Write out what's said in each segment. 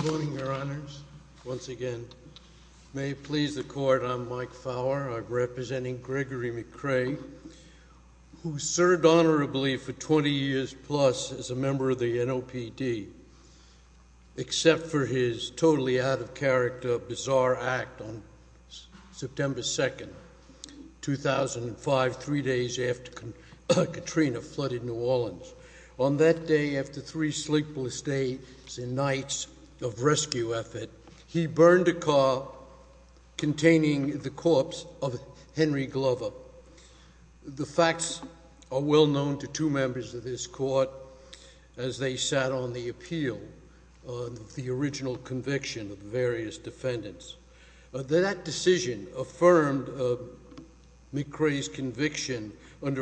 Good morning, Your Honors. Once again, may it please the Court, I'm Mike Fowler. I'm representing Gregory McRae, who served honorably for 20 years plus as a member of the NOPD, except for his totally out-of-character, bizarre act on September 2nd, 2005, three days after Katrina flooded New Orleans. On that day, after three sleepless days and nights of rescue effort, he burned a car containing the corpse of Henry Glover. The facts are well known to two members of this Court as they sat on the appeal of the original conviction of the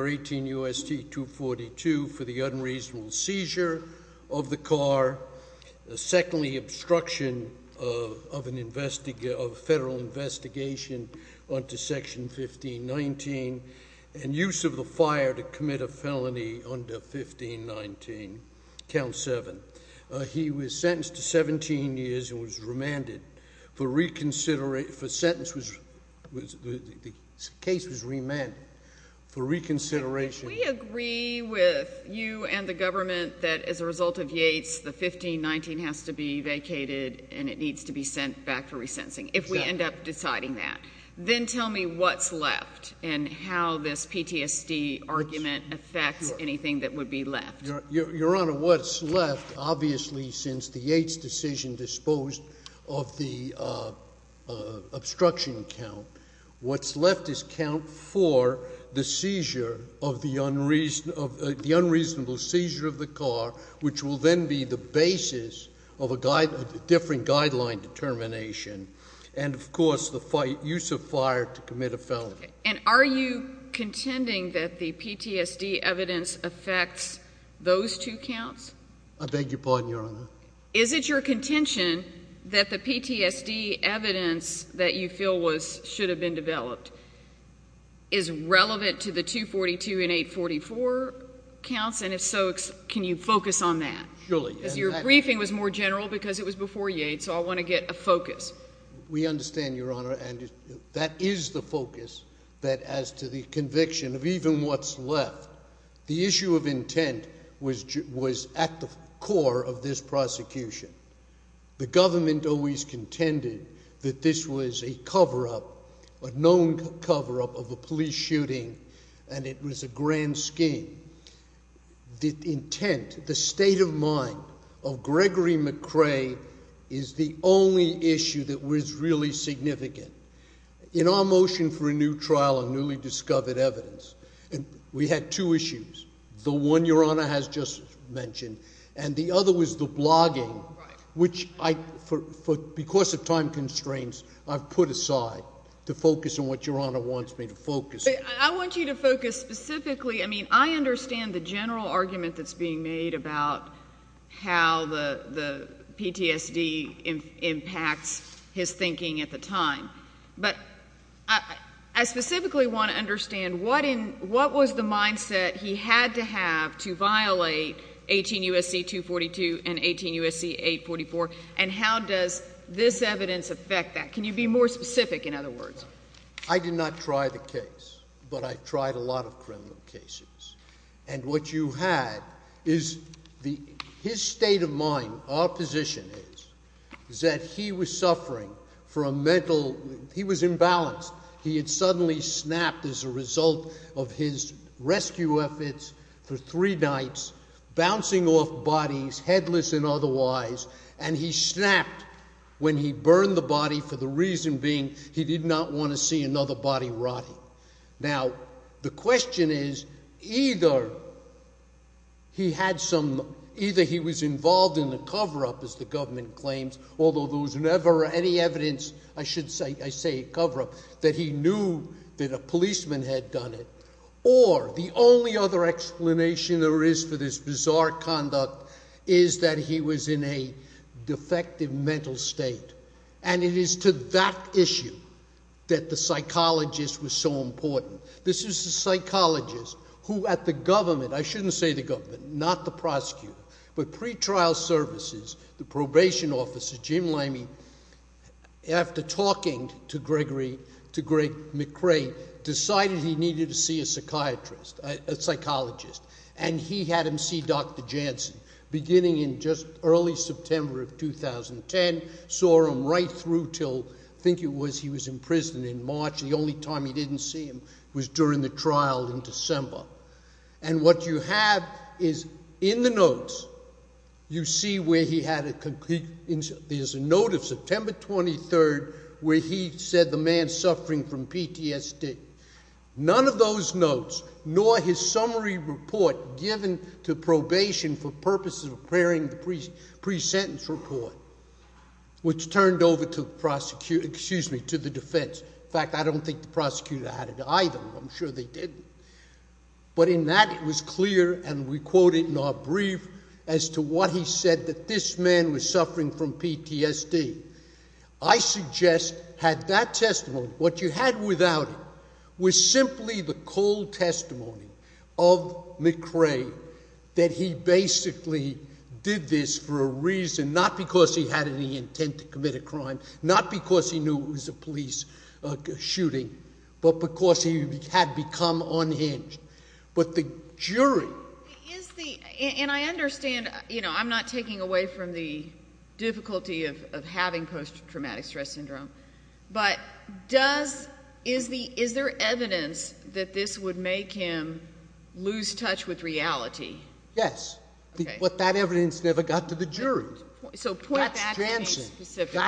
18 U.S.T. 242 for the unreasonable seizure of the car, secondly, obstruction of a federal investigation under Section 1519, and use of the fire to commit a felony under 1519, Count 7. He was sentenced to 17 years and was remanded for reconsideration. The case was remanded for reconsideration. We agree with you and the government that as a result of Yates, the 1519 has to be vacated and it needs to be sent back for resentencing, if we end up deciding that. Then tell me what's left and how this PTSD argument affects anything that would be left. Your Honor, what's left, obviously, since the Yates decision disposed of the obstruction count, what's left is count 4, the seizure of the unreasonable seizure of the car, which will then be the basis of a different guideline determination, and, of course, the use of fire to commit a felony. And are you contending that the PTSD evidence affects those two counts? I beg your pardon, Your Honor? Is it your contention that the PTSD evidence that you feel should have been developed is relevant to the 242 and 844 counts, and if so, can you focus on that? Surely. Because your briefing was more general because it was before Yates, so I want to get a focus. We understand, Your Honor, and that is the focus that as to the conviction of even what's left. The issue of intent was at the core of this prosecution. The government always contended that this was a cover-up, a known cover-up of a police shooting and it was a grand scheme. The intent, the state of mind of Gregory McRae is the only issue that was really significant. In our motion for a new trial of newly discovered evidence, we had two issues. The one Your Honor has just mentioned, and the other was the blogging, which I, because of time constraints, I've put aside to focus on what Your Honor wants me to focus on. I want you to focus specifically, I mean, I understand the general argument that's being made about how the PTSD impacts his thinking at the time, but I specifically want to understand what was the mindset he had to have to violate 18 U.S.C. 242 and 18 U.S.C. 844, and how does this evidence affect that? Can you be more specific, in other words? I did not try the case, but I tried a lot of criminal cases. And what you had is the, his state of mind, our position is, is that he was suffering from mental, he was imbalanced. He had suddenly snapped as a result of his rescue efforts for three nights, bouncing off bodies, headless and otherwise, and he snapped when he burned the body for the reason being he did not want to see another body rotting. Now, the question is, either he had some, either he was involved in a cover-up, as the government claims, although there was never any evidence, I should say, a cover-up, that he knew that a policeman had done it, or the only other explanation there is for this bizarre issue that the psychologist was so important. This is the psychologist who, at the government, I shouldn't say the government, not the prosecutor, but pretrial services, the probation officer, Jim Limey, after talking to Gregory, to Greg McRae, decided he needed to see a psychiatrist, a psychologist, and he had him see Dr. Janssen beginning in just early September of 2010, saw him right through till, I think it was, he was in prison in March, the only time he didn't see him was during the trial in December. And what you have is, in the notes, you see where he had a complete, there's a note of September 23rd where he said the man's suffering from PTSD. None of those notes, nor his summary report given to probation for purposes of preparing the pre-sentence report, which turned over to the prosecutor, excuse me, to the defense. In fact, I don't think the prosecutor had it either, I'm sure they didn't. But in that, it was clear, and we quote it in our brief, as to what he said, that this man was suffering from PTSD. I suggest, had that testimony, what you had without it, was simply the cold testimony of McRae that he basically did this for a reason, not because he had any intent to commit a crime, not because he knew it was a police shooting, but because he had become unhinged. But the jury- And I understand, you know, I'm not taking away from the difficulty of having post-traumatic stress syndrome, but does, is there evidence that this would make him lose touch with reality? Yes. But that evidence never got to the jury. So point that to me specifically.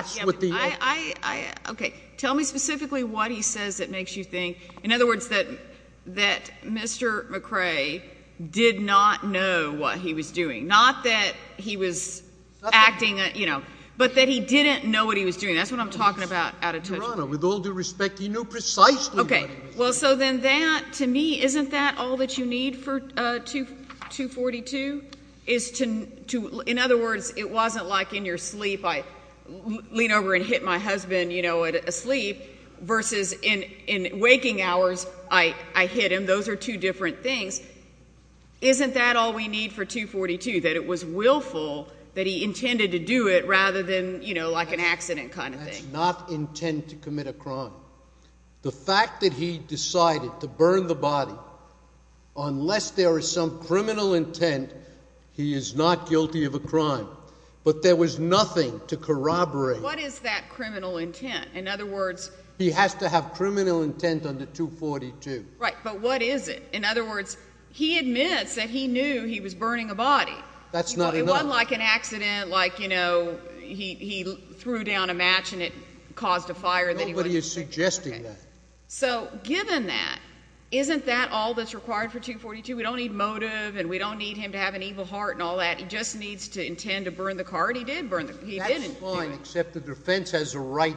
Tell me specifically what he says that makes you think, in other words, that Mr. McRae did not know what he was doing. Not that he was acting, you know, but that he didn't know what he was doing. That's what I'm talking about out of touch. Your Honor, with all due respect, he knew precisely what he was doing. Okay. Well, so then that, to me, isn't that all that you need for 242, is to, in other words, it wasn't like in your sleep, I lean over and hit my husband, you know, asleep, versus in waking hours, I hit him. Those are two different things. Isn't that all we need for 242, that it was willful, that he intended to do it, rather than, you know, like an accident kind of thing? That's not intent to commit a crime. The fact that he decided to burn the body, unless there is some criminal intent, he is not guilty of a crime. But there was nothing to corroborate. What is that criminal intent? In other words— He has to have criminal intent under 242. Right. But what is it? In other words, he admits that he knew he was burning a body. That's not enough. It wasn't like an accident, like, you know, he threw down a match and it caused a fire that he wasn't— Nobody is suggesting that. Okay. So, given that, isn't that all that's required for 242? We don't need motive, and we don't need him to have an evil heart and all that. He just needs to intend to burn the car, and he did burn the—he didn't do it. That's fine, except the defense has a right,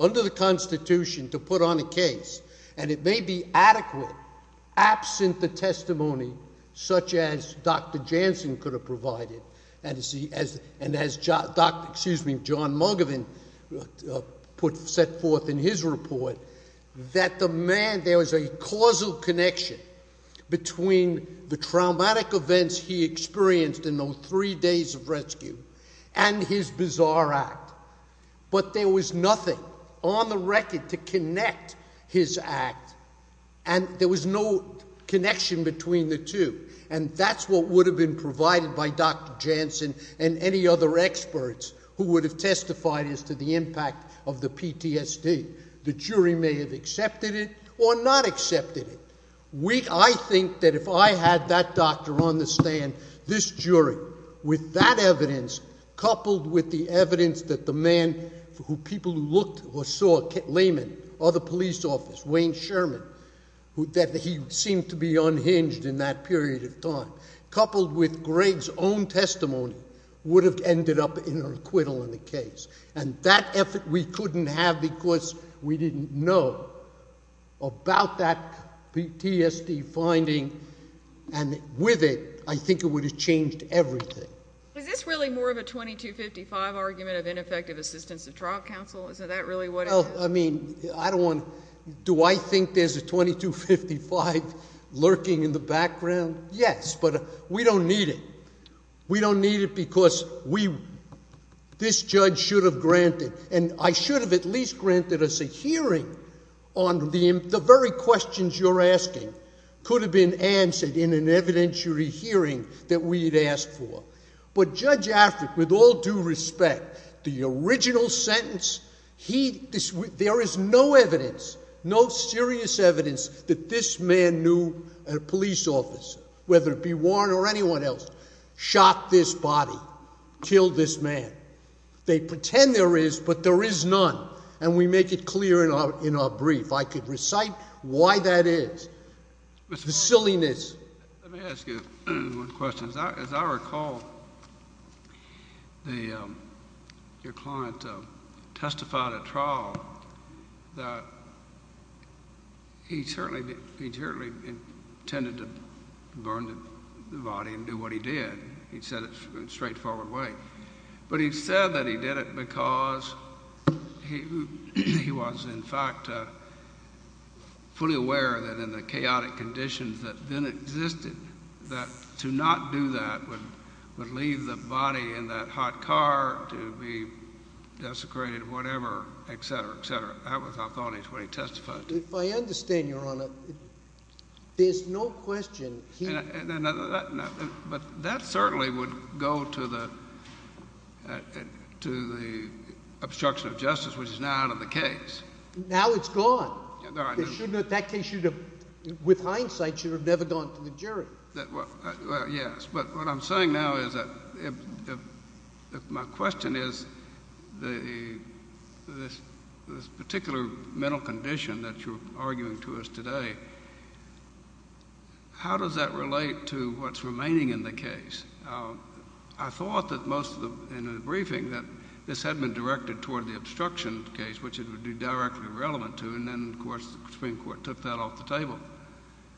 under the Constitution, to put on a case, and it may be adequate, absent the testimony such as Dr. Jansen could have provided, and as John Mugovan set forth in his report, that the man—there was a causal connection between the traumatic events he experienced in those three days of rescue and his bizarre act, but there was nothing on the record to connect his act, and there was no connection between the two, and that's what would have been provided by Dr. Jansen and any other experts who would have testified as to the impact of the PTSD. The jury may have accepted it or not accepted it. I think that if I had that doctor on the stand, this jury, with that evidence, coupled with the evidence that the man who people who looked or saw—Layman, other police officers, Wayne Sherman—that he seemed to be unhinged in that period of time, coupled with Greg's own testimony, would have ended up in an acquittal in the case, and that effort we couldn't have because we didn't know about that PTSD finding, and with it, I think it would have changed everything. Is this really more of a 2255 argument of ineffective assistance of trial counsel? Is that really what it is? I mean, I don't want to—do I think there's a 2255 lurking in the background? Yes, but we don't need it. We don't need it because we—this judge should have granted, and I should have at least granted us a hearing on the very questions you're asking could have been answered in an evidentiary hearing that we'd asked for. But Judge Affleck, with all due respect, the original sentence, he—there is no evidence, no serious evidence that this man knew a police officer, whether it be Warren or anyone else, shot this body, killed this man. They pretend there is, but there is none, and we make it clear in our brief. I could recite why that is. The silliness— Let me ask you one question. As I recall, your client testified at trial that he certainly intended to burn the body and do what he did. He said it in a straightforward way. But he said that he did it because he was, in fact, fully aware that in the chaotic conditions that then existed, that to not do that would leave the body in that hot car to be desecrated or whatever, et cetera, et cetera. That was our thought when he testified. If I understand, Your Honor, there's no question he— But that certainly would go to the obstruction of justice, which is now out of the case. Now it's gone. That case should have, with hindsight, should have never gone to the jury. Well, yes. But what I'm saying now is that my question is this particular mental condition that you're arguing to us today, how does that relate to what's remaining in the case? I thought that most of the—in the briefing, that this had been directed toward the obstruction case, which it would be directly relevant to. And then, of course, the Supreme Court took that off the table.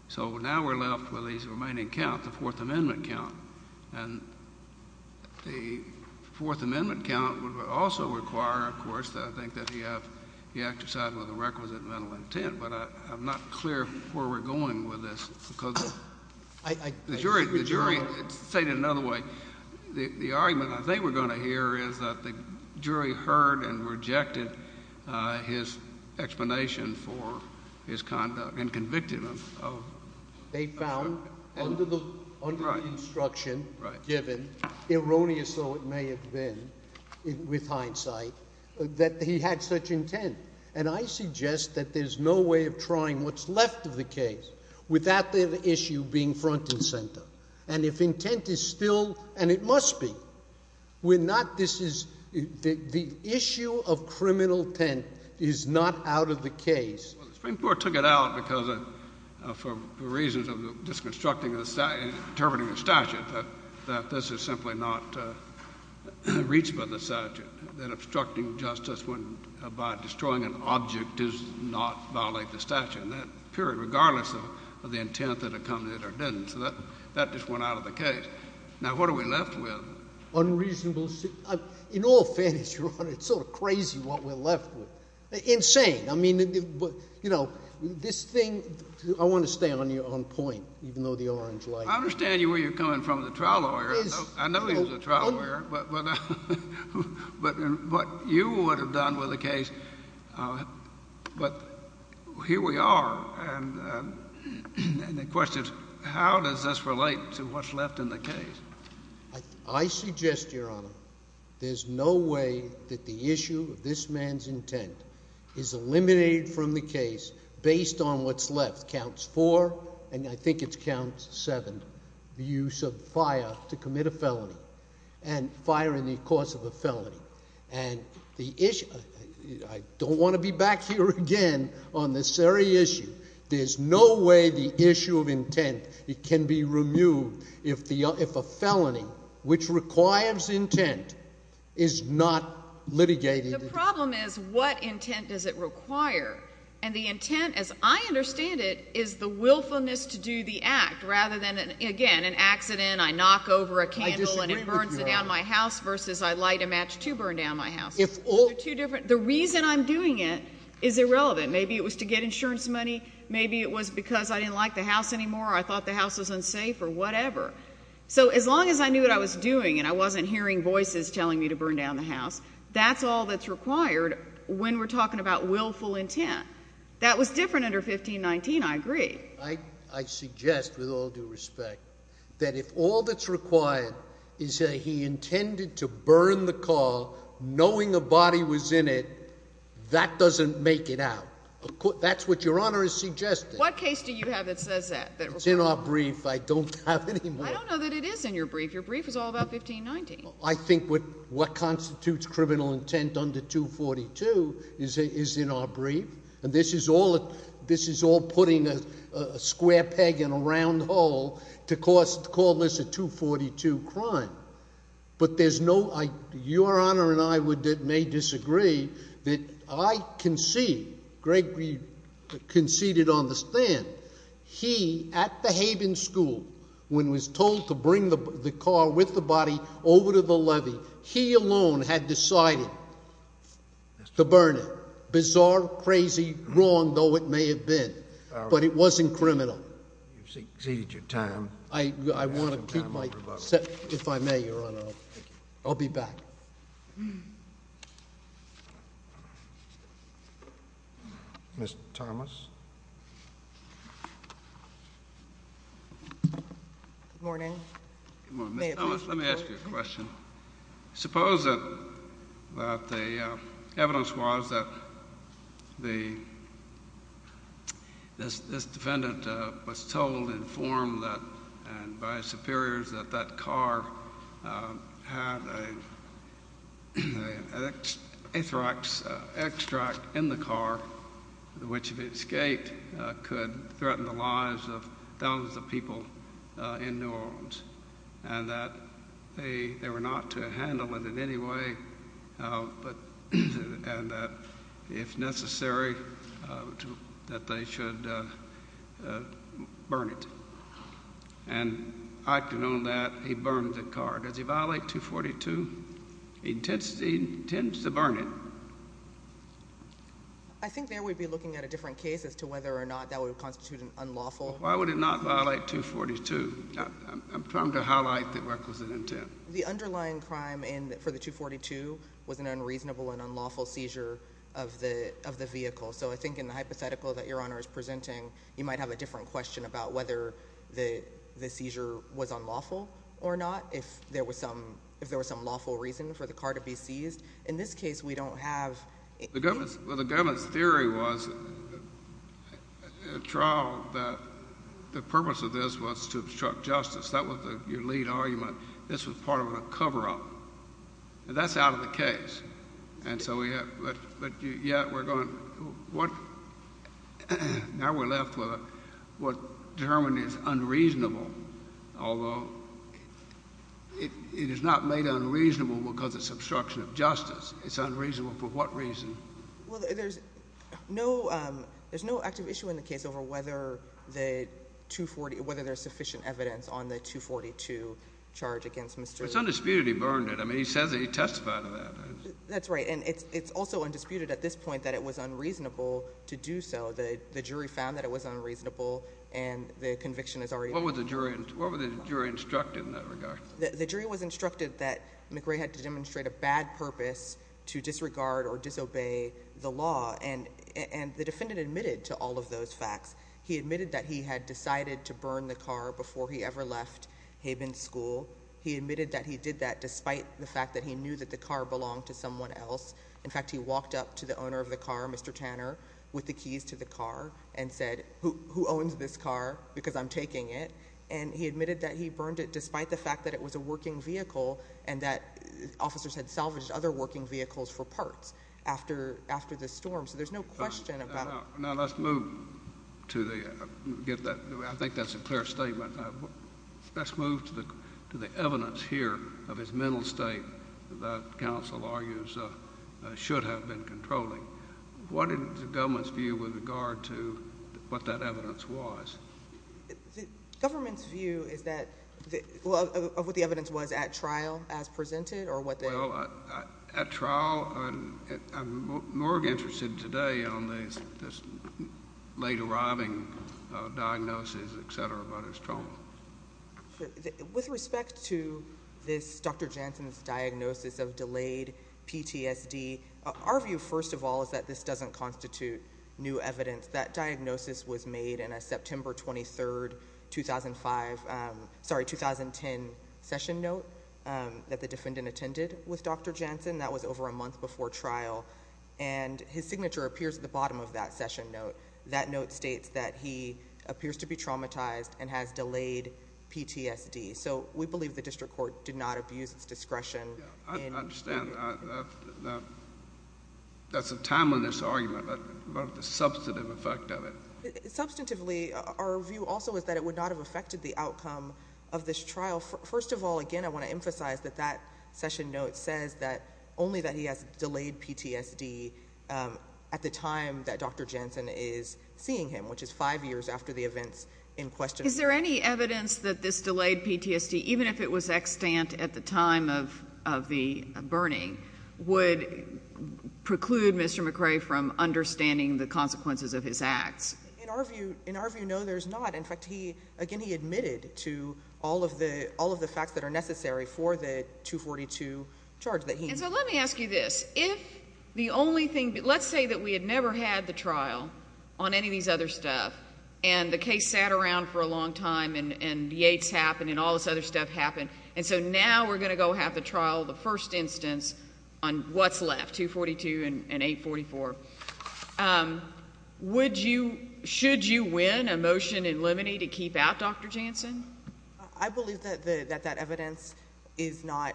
So now we're left with the remaining count, the Fourth Amendment count. And the Fourth Amendment count would also require, of course, I think that he exercised with a requisite mental intent. But I'm not clear where we're going with this because— I— The jury stated it another way. The argument I think we're going to hear is that the jury heard and rejected his explanation for his conduct and convicted him of— They found under the instruction given, erroneous though it may have been with hindsight, that he had such intent. And I suggest that there's no way of trying what's left of the case without the issue being front and center. And if intent is still—and it must be. We're not—this is—the issue of criminal intent is not out of the case. Well, the Supreme Court took it out because of—for reasons of disconstructing the—interpreting the statute, that this is simply not reached by the statute. That obstructing justice by destroying an object does not violate the statute. And that period, regardless of the intent that accompanied it or didn't. So that just went out of the case. Now, what are we left with? Unreasonable—in all fairness, Your Honor, it's sort of crazy what we're left with. Insane. I mean, you know, this thing—I want to stay on point, even though the orange light— I understand where you're coming from, the trial lawyer. I know he was a trial lawyer. But what you would have done with the case—but here we are. And the question is, how does this relate to what's left in the case? I suggest, Your Honor, there's no way that the issue of this man's intent is eliminated from the case based on what's left. Counts 4 and I think it's count 7. The use of fire to commit a felony. And fire in the course of a felony. And the issue—I don't want to be back here again on this very issue. There's no way the issue of intent can be removed if a felony, which requires intent, is not litigated. The problem is, what intent does it require? And the intent, as I understand it, is the willfulness to do the act, rather than, again, an accident, I knock over a candle and it burns it down my house, versus I light a match to burn down my house. The reason I'm doing it is irrelevant. Maybe it was to get insurance money. Maybe it was because I didn't like the house anymore, or I thought the house was unsafe, or whatever. So as long as I knew what I was doing, and I wasn't hearing voices telling me to burn down the house, that's all that's required when we're talking about willful intent. That was different under 1519, I agree. I suggest, with all due respect, that if all that's required is that he intended to burn the car, knowing a body was in it, that doesn't make it out. That's what Your Honor is suggesting. What case do you have that says that? It's in our brief. I don't have any more. I don't know that it is in your brief. Your brief is all about 1519. I think what constitutes criminal intent under 242 is in our brief. This is all putting a square peg in a round hole to call this a 242 crime. But Your Honor and I may disagree that I concede, Greg conceded on the stand, he, at the Haven School, when he was told to bring the car with the body over to the levee, he alone had decided to burn it. Bizarre, crazy, wrong, though it may have been. But it wasn't criminal. You've exceeded your time. I want to keep my, if I may, Your Honor. I'll be back. Ms. Thomas? Good morning. Ms. Thomas, let me ask you a question. Suppose that the evidence was that this defendant was told and informed by superiors that that car had a anthrax extract in the car which, if it escaped, could threaten the lives of thousands of people in New Orleans and that they were not to handle it in any way and that, if necessary, that they should burn it. And acting on that, he burned the car. Does he violate 242? He intends to burn it. I think there we'd be looking at a different case as to whether or not that would constitute an unlawful. Why would he not violate 242? I'm trying to highlight the requisite intent. The underlying crime for the 242 was an unreasonable and unlawful seizure of the vehicle. So I think in the hypothetical that Your Honor is presenting, you might have a different question about whether the seizure was unlawful or not, if there was some lawful reason for the car to be seized. In this case, we don't have... The government's theory was in trial that the purpose of this was to obstruct justice. That was your lead argument. This was part of a cover-up. That's out of the case. Now we're left with what Germany's unreasonable, although it is not made unreasonable because it's obstruction of justice. It's unreasonable for what reason? There's no active issue in the case over whether there's sufficient evidence on the 242 charge against Mr... It's undisputed he burned it. He testified to that. It's also undisputed at this point that it was unreasonable to do so. The jury found that it was unreasonable and the conviction is already... What was the jury instructed in that regard? The jury was instructed that McRae had to demonstrate a bad purpose to disregard or disobey the law. The defendant admitted to all of those facts. He admitted that he had decided to burn the car before he ever left Haven School. He admitted that he did that despite the fact that he knew that the car belonged to someone else. In fact, he walked up to the owner of the car, Mr. Tanner, with the keys to the car and said, who owns this car because I'm taking it? He admitted that he burned it despite the fact that it was a working vehicle and that officers had salvaged other working vehicles for parts after the storm. There's no question about... Now let's move to the... I think that's a clear statement. Let's move to the evidence here of his mental state that counsel argues should have been controlling. What is the government's view with regard to what that evidence was? The government's view is that... of what the evidence was at trial as presented? Well, at trial... We're more interested today on this late-arriving diagnosis, etc., about his trauma. With respect to this Dr. Janssen's diagnosis of delayed PTSD, our view, first of all, is that this doesn't constitute new evidence. That diagnosis was made in a September 23, 2005... Sorry, 2010 session note that the defendant attended with Dr. Janssen. That was over a month before trial. And his signature appears at the bottom of that session note. That note states that he appears to be traumatized and has delayed PTSD. So we believe the district court did not abuse its discretion. I understand. That's a timeliness argument, but what about the substantive effect of it? Substantively, our view also is that it would not have affected the outcome of this trial. First of all, again, I want to emphasize that that only that he has delayed PTSD at the time that Dr. Janssen is seeing him, which is five years after the events in question. Is there any evidence that this delayed PTSD, even if it was extant at the time of the burning, would preclude Mr. McRae from understanding the consequences of his acts? In our view, no, there's not. In fact, he, again, he admitted to all of the facts that are necessary for the So let me ask you this. If the only thing, let's say that we had never had the trial on any of these other stuff, and the case sat around for a long time, and the AIDS happened, and all this other stuff happened, and so now we're going to go have the trial, the first instance, on what's left, 242 and 844. Would you, should you win a motion in limine to keep out Dr. Janssen? I believe that that evidence is not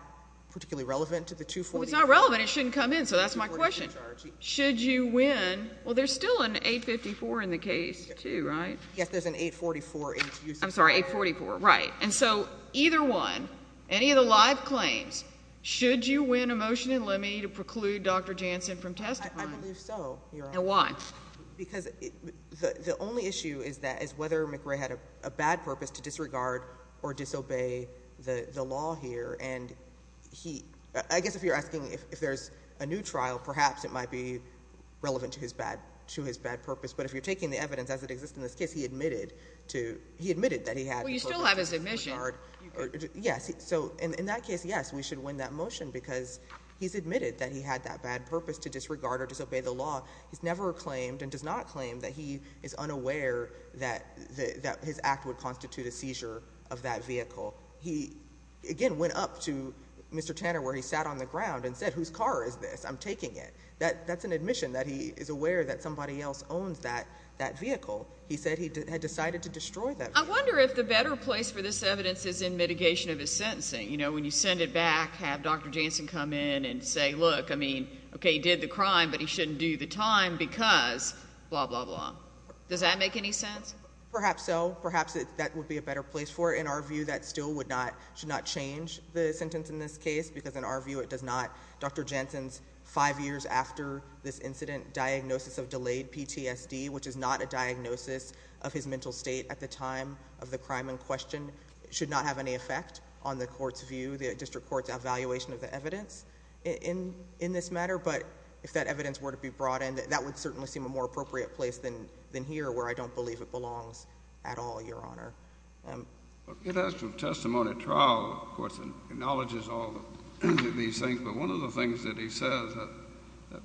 particularly relevant to the 242. It's not relevant, it shouldn't come in, so that's my question. Should you win, well, there's still an 854 in the case too, right? Yes, there's an 844 I'm sorry, 844, right. And so, either one, any of the live claims, should you win a motion in limine to preclude Dr. Janssen from testifying? I believe so, Your Honor. And why? Because the only issue is that, is whether McRae had a bad purpose to disregard or disobey the law here, and he, I guess if you're asking if there's a new trial, perhaps it might be relevant to his bad purpose, but if you're taking the evidence as it exists in this case, he admitted to, he admitted that he had. Well, you still have his admission. Yes, so in that case, yes, we should win that motion because he's admitted that he had that bad purpose to disregard or disobey the law. He's never claimed, and does not claim that he is unaware that his act would constitute a seizure of that vehicle. He, again, went up to Mr. Tanner where he sat on the ground and said, whose car is this? I'm taking it. That's an admission that he is aware that somebody else owns that vehicle. He said he had decided to destroy that vehicle. I wonder if the better place for this evidence is in mitigation of his sentencing. You know, when you send it back, have Dr. Janssen come in and say, look, I mean, okay, he did the crime, but he shouldn't do the time because, blah, blah, blah. Does that make any sense? Perhaps so. Perhaps that would be a better place for it. In our view, that still would not should not change the sentence in this case because, in our view, it does not. Dr. Janssen's five years after this incident, diagnosis of delayed PTSD, which is not a diagnosis of his mental state at the time of the crime in question, should not have any effect on the court's view, the district court's evaluation of the evidence in this matter, but if that evidence were to be brought in, that would certainly seem a more appropriate place than here, where I don't believe it belongs at all, Your Honor. It has some testimony at trial, of course, and acknowledges all these things, but one of the things that he says that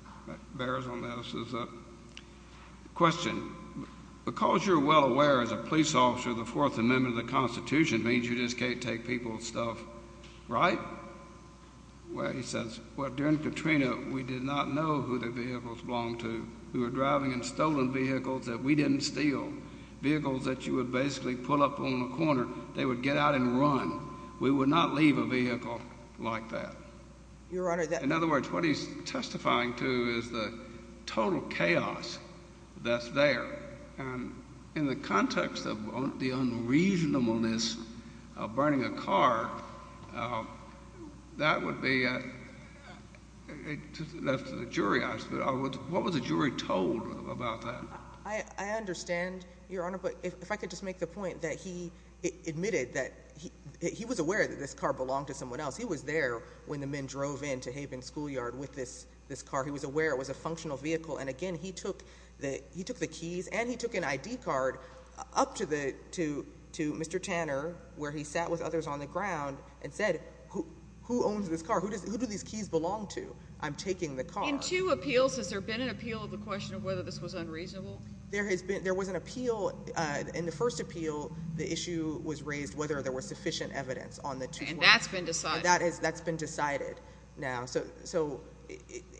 bears on this is a question. Because you're well aware, as a police officer, the Fourth Amendment of the Constitution means you just can't take people's stuff right? Well, he says, well, during Katrina, we did not know who the vehicles belonged to who were driving in stolen vehicles that we didn't steal. Vehicles that you would basically pull up on a corner, they would get out and run. We would not leave a vehicle like that. In other words, what he's testifying to is the total chaos that's there. In the context of the unreasonableness of burning a car, that would be that left to the jury. What was the jury told about that? I understand, Your Honor, but if I could just make the point that he admitted that he was aware that this car belonged to someone else. He was there when the men drove in to Haven Schoolyard with this car. He was aware it was a functional vehicle, and again, he took the keys and he took an ID card up to Mr. Tanner, where he sat with others on the ground, and said, who owns this car? Who do these keys belong to? I'm taking the car. In two appeals, has there been an appeal of the question of whether this was unreasonable? There has been. There was an appeal. In the first appeal, the issue was raised whether there was sufficient evidence on the two cars. And that's been decided. That's been decided.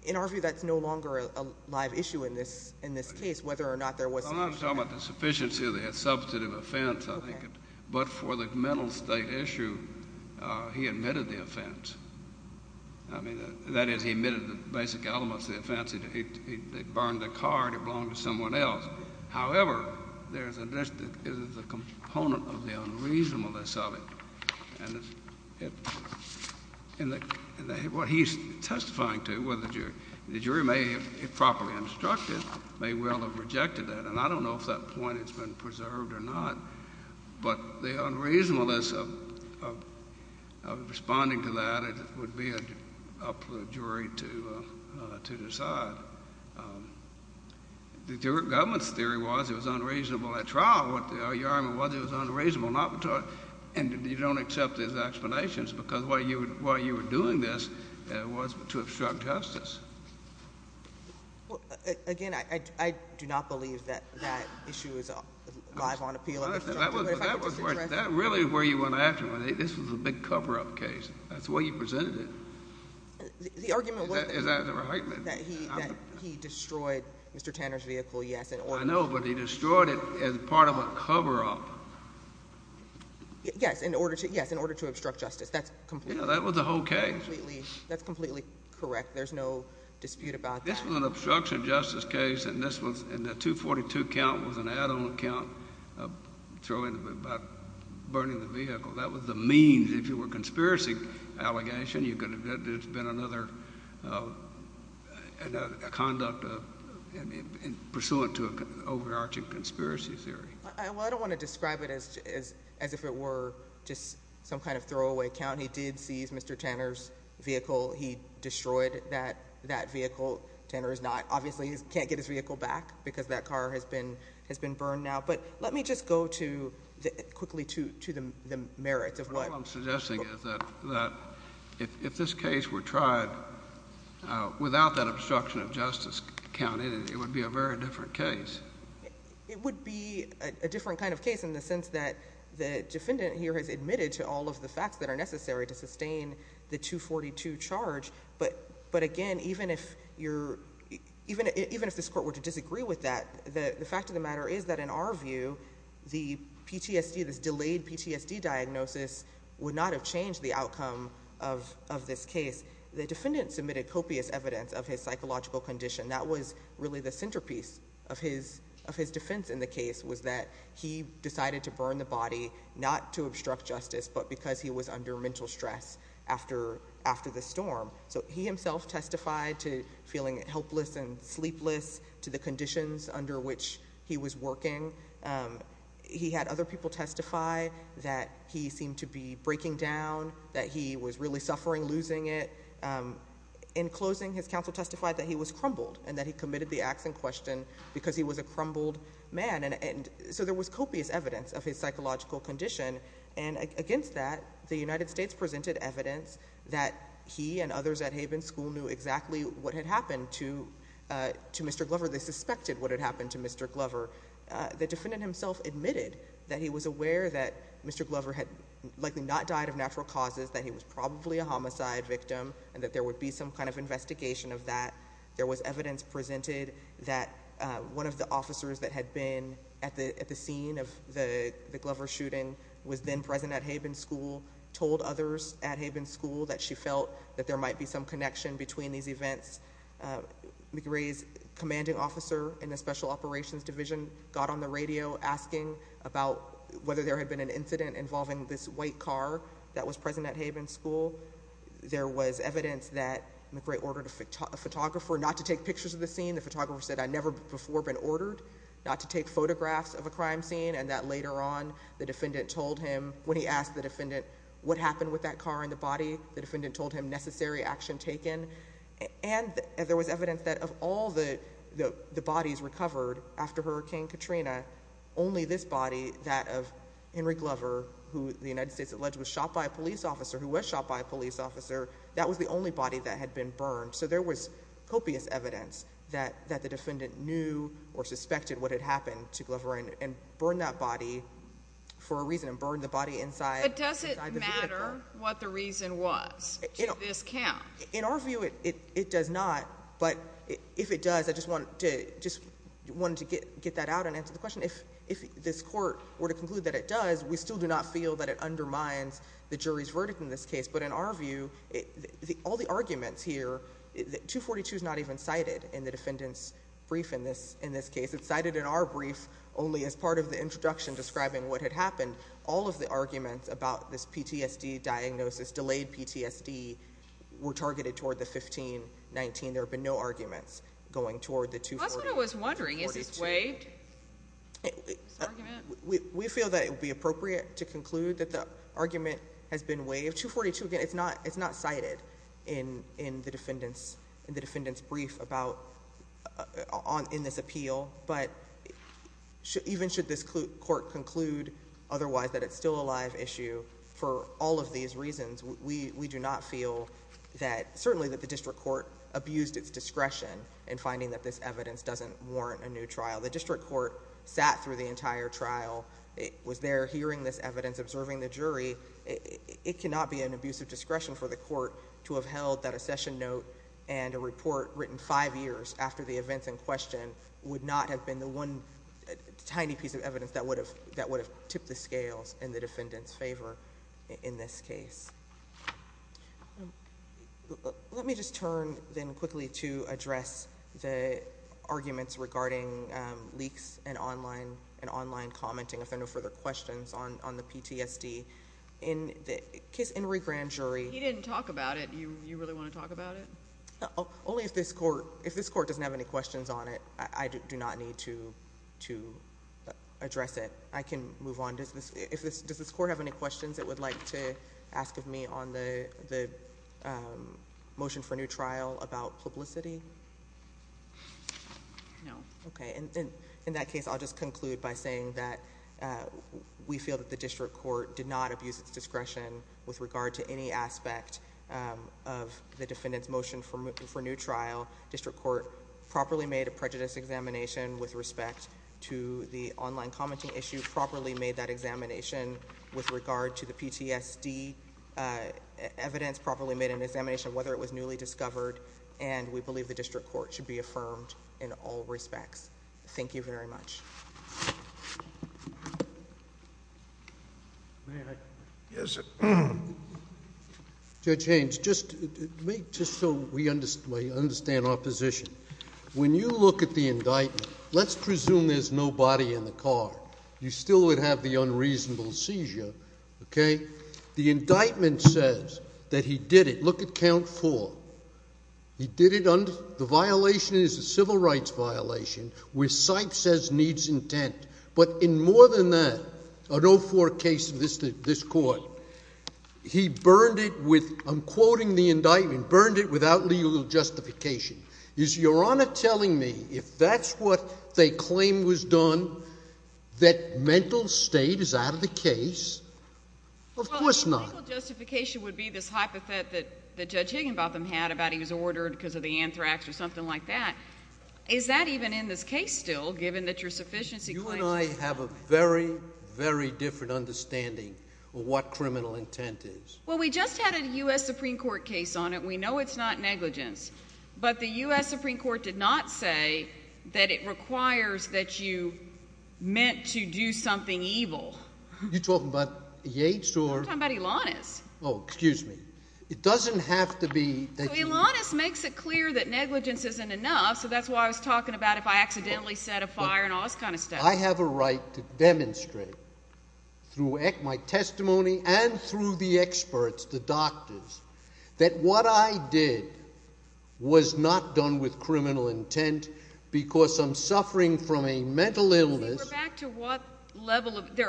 In our view, that's no longer a live issue in this case, whether or not there was sufficient evidence. I'm not talking about the sufficiency of that substantive offense, I think. But for the mental state issue, he admitted the offense. I mean, that is, he admitted the basic elements of the offense. It burned the car and it belonged to someone else. However, there is a component of the unreasonableness of it. And what he's testifying to, the jury may have properly instructed, may well have rejected that, and I don't know if that point has been observed or not. But the unreasonableness of responding to that, it would be up to the jury to decide. The government's theory was it was unreasonable at trial, what the argument was it was unreasonable not to and you don't accept his explanations because why you were doing this was to obstruct justice. Again, I do not believe that issue is live on appeal. That really is where you went after him. This was a big cover-up case. That's the way you presented it. The argument was that he destroyed Mr. Tanner's vehicle, yes. I know, but he destroyed it as part of a cover-up. Yes, in order to obstruct justice. That was the whole case. That's completely correct. There's no dispute about that. This was an obstruction of justice case and the 242 count was an add-on count by burning the vehicle. That was the means. If it were a conspiracy allegation, there's been another conduct pursuant to an overarching conspiracy theory. I don't want to describe it as if it were some kind of throwaway count. He did seize Mr. Tanner's vehicle. He destroyed that vehicle. Tanner obviously can't get his vehicle back because that car has been burned now. Let me just go quickly to the merits. What I'm suggesting is that if this case were tried without that obstruction of justice counted, it would be a very different case. It would be a different kind of case in the sense that the defendant here has admitted to all of the facts that are necessary to sustain the 242 charge. Again, even if this court were to disagree with that, the fact of the matter is that in our view, the PTSD, this delayed PTSD diagnosis would not have changed the outcome of this case. The defendant submitted copious evidence of his psychological condition. That was really the centerpiece of his defense in the case was that he decided to burn the body not to obstruct mental stress after the storm. He himself testified to feeling helpless and sleepless to the conditions under which he was working. He had other people testify that he seemed to be breaking down, that he was really suffering losing it. In closing, his counsel testified that he was crumbled and that he committed the acts in question because he was a crumbled man. There was copious evidence of his psychological condition and against that, the United States presented evidence that he and others at Haven School knew exactly what had happened to Mr. Glover. They suspected what had happened to Mr. Glover. The defendant himself admitted that he was aware that Mr. Glover had likely not died of natural causes, that he was probably a homicide victim and that there would be some kind of investigation of that. There was evidence presented that one of the officers that had been at the scene of the Glover shooting was then present at Haven School, told others at Haven School that she felt that there might be some connection between these events. McRae's commanding officer in the Special Operations Division got on the radio asking about whether there had been an incident involving this white car that was present at Haven School. There was evidence that McRae ordered a photographer not to take pictures of the scene. The photographer said, I've never before been ordered not to take photographs of a crime scene and that later on, the defendant told him when he asked the defendant what happened with that car and the body, the defendant told him necessary action taken. And there was evidence that of all the bodies recovered after Hurricane Katrina, only this body, that of Henry Glover, who the United States alleged was shot by a police officer, who was shot by that had been burned. So there was copious evidence that the defendant knew or suspected what had happened to Glover and burned that body for a reason and burned the body inside the vehicle. But does it matter what the reason was to this count? In our view, it does not, but if it does, I just wanted to get that out and answer the question. If this court were to conclude that it does, we still do not feel that it undermines the jury's verdict in this case. But in our view, all the arguments here, 242 is not even cited in the defendant's brief in this case. It's cited in our brief only as part of the introduction describing what had happened. All of the arguments about this PTSD diagnosis, delayed PTSD, were targeted toward the 1519. There have been no arguments going toward the 242. That's what I was wondering. Is this waived? We feel that it would be appropriate to conclude that the argument has been waived. 242, again, it's not cited in the appeal. But even should this court conclude otherwise that it's still a live issue for all of these reasons, we do not feel that certainly that the district court abused its discretion in finding that this evidence doesn't warrant a new trial. The district court sat through the entire trial, was there hearing this evidence, observing the jury. It cannot be an abuse of discretion for the court to have held that a session note and a report written five years after the events in question would not have been the one tiny piece of evidence that would have tipped the scales in the defendant's favor in this case. Let me just turn then quickly to address the arguments regarding leaks and online commenting, if there are no further questions, on the PTSD. In the case of the Grand Jury... Only if this court doesn't have any questions on it, I do not need to address it. I can move on. Does this court have any questions it would like to ask of me on the motion for a new trial about publicity? No. Okay. In that case, I'll just conclude by saying that we feel that the district court did not abuse its discretion with regard to any aspect of the defendant's motion for new trial. District court properly made a prejudice examination with respect to the online commenting issue, properly made that examination with regard to the PTSD evidence, properly made an examination of whether it was newly discovered, and we believe the district court should be affirmed in all respects. Thank you very much. May I? Yes. Judge Haynes, just so we understand our position, when you look at the indictment, let's presume there's no body in the car. You still would have the unreasonable seizure, okay? The indictment says that he did it. Look at count four. He did it under... The violation is a civil rights violation, where CIPE says needs intent. But in more than that, on all four cases in this court, he burned it with, I'm quoting the indictment, burned it without legal justification. Is Your Honor telling me if that's what they claim was done, that mental state is out of the case? Of course not. Well, legal justification would be this hypothet that Judge Higginbotham had about he was ordered because of the anthrax or something like that. Is that even in this case still, given that your sufficiency claims... You and I have a very, very different understanding of what criminal intent is. Well, we just had a U.S. Supreme Court case on it. We know it's not negligence. But the U.S. Supreme Court did not say that it requires that you meant to do something evil. Are you talking about Yates or... I'm talking about Elanis. Oh, excuse me. It doesn't have to be... Elanis makes it clear that negligence isn't enough, so that's why I was talking about if I accidentally set a fire and all this kind of crap, through my testimony and through the experts, the doctors, that what I did was not done with criminal intent because I'm suffering from a mental illness... There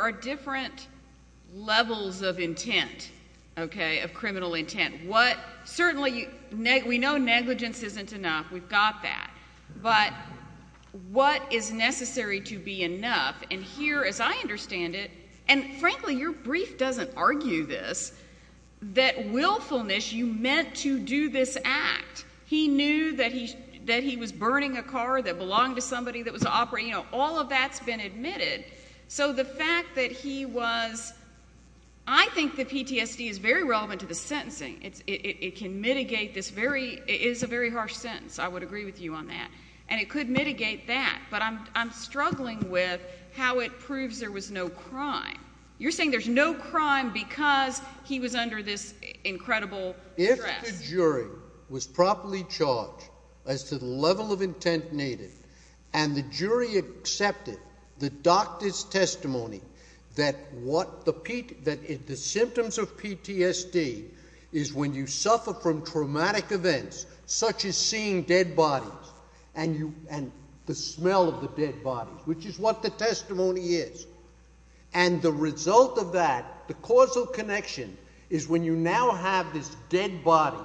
are different levels of intent, okay, of criminal intent. Certainly, we know negligence isn't enough. We've got that. But what is necessary to be able to understand it, and frankly, your brief doesn't argue this, that willfulness, you meant to do this act. He knew that he was burning a car that belonged to somebody that was operating... All of that's been admitted. So the fact that he was... I think the PTSD is very relevant to the sentencing. It can mitigate this very... It is a very harsh sentence. I would agree with you on that. And it could mitigate that. But I'm not saying there's no crime. You're saying there's no crime because he was under this incredible stress. If the jury was properly charged as to the level of intent needed and the jury accepted the doctor's testimony that what the symptoms of PTSD is when you suffer from traumatic events, such as seeing dead bodies and the smell of the dead what the testimony is. And the result of that, the causal connection, is when you now have this dead body,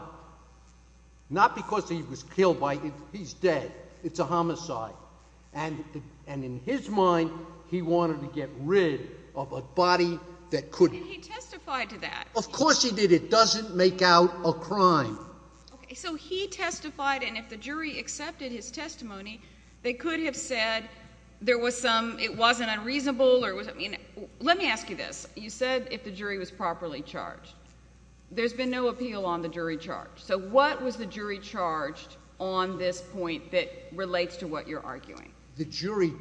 not because he was killed by... He's dead. It's a homicide. And in his mind, he wanted to get rid of a body that couldn't. And he testified to that. Of course he did. It doesn't make out a crime. So he testified, and if the jury accepted his testimony, they could have said there was some... It wasn't unreasonable. Let me ask you this. You said if the jury was properly charged. There's been no appeal on the jury charge. So what was the jury charged on this point that relates to what you're arguing? The jury...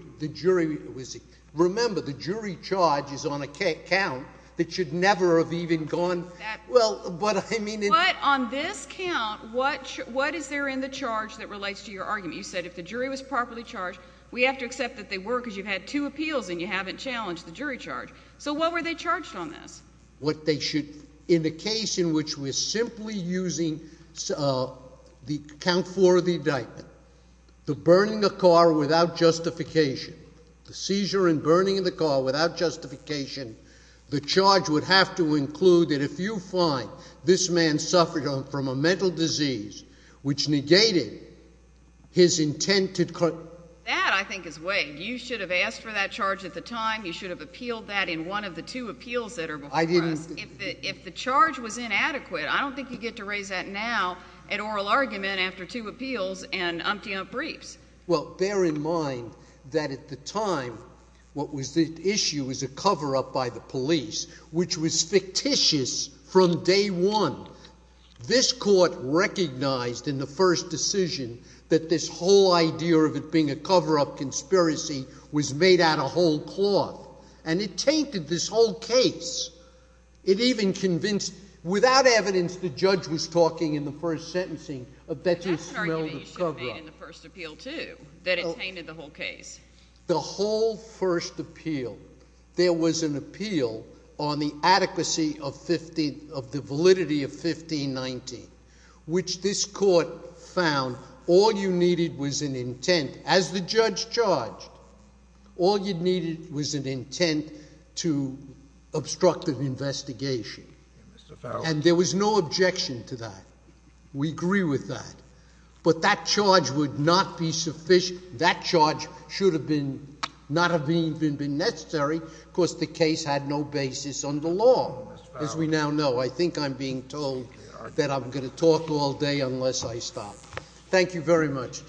Remember, the jury charge is on a count that should never have even gone... Well, but I mean... But on this count, what is there in the charge that relates to your we have to accept that they were because you've had two appeals and you haven't challenged the jury charge. So what were they charged on this? What they should... In the case in which we're simply using the count for the indictment, the burning of the car without justification, the seizure and burning of the car without justification, the charge would have to include that if you find this man suffered from a mental disease which negated his intent to... That, I think, is vague. You should have asked for that charge at the time. You should have appealed that in one of the two appeals that are before us. If the charge was inadequate, I don't think you get to raise that now at oral argument after two appeals and umpty-umpt briefs. Well, bear in mind that at the time what was the issue was a cover-up by the police which was fictitious from day one. This court recognized in the first decision that this whole idea of it being a cover-up conspiracy was made out of whole cloth and it tainted this whole case. It even convinced, without evidence, the judge was talking in the first sentencing that you smelled a cover-up. But that's an argument you should have made in the first appeal too that it tainted the whole case. The whole first appeal, there was an appeal on the adequacy of 15... of the validity of 1519 which this court found all you needed was an intent, as the judge charged, all you needed was an intent to obstruct an investigation. And there was no objection to that. We agree with that. But that charge would not be sufficient. That charge should have been... not have even been necessary because the case had no basis on the law, as we now know. I think I'm being told that I'm going to talk all day unless I stop. Thank you very much.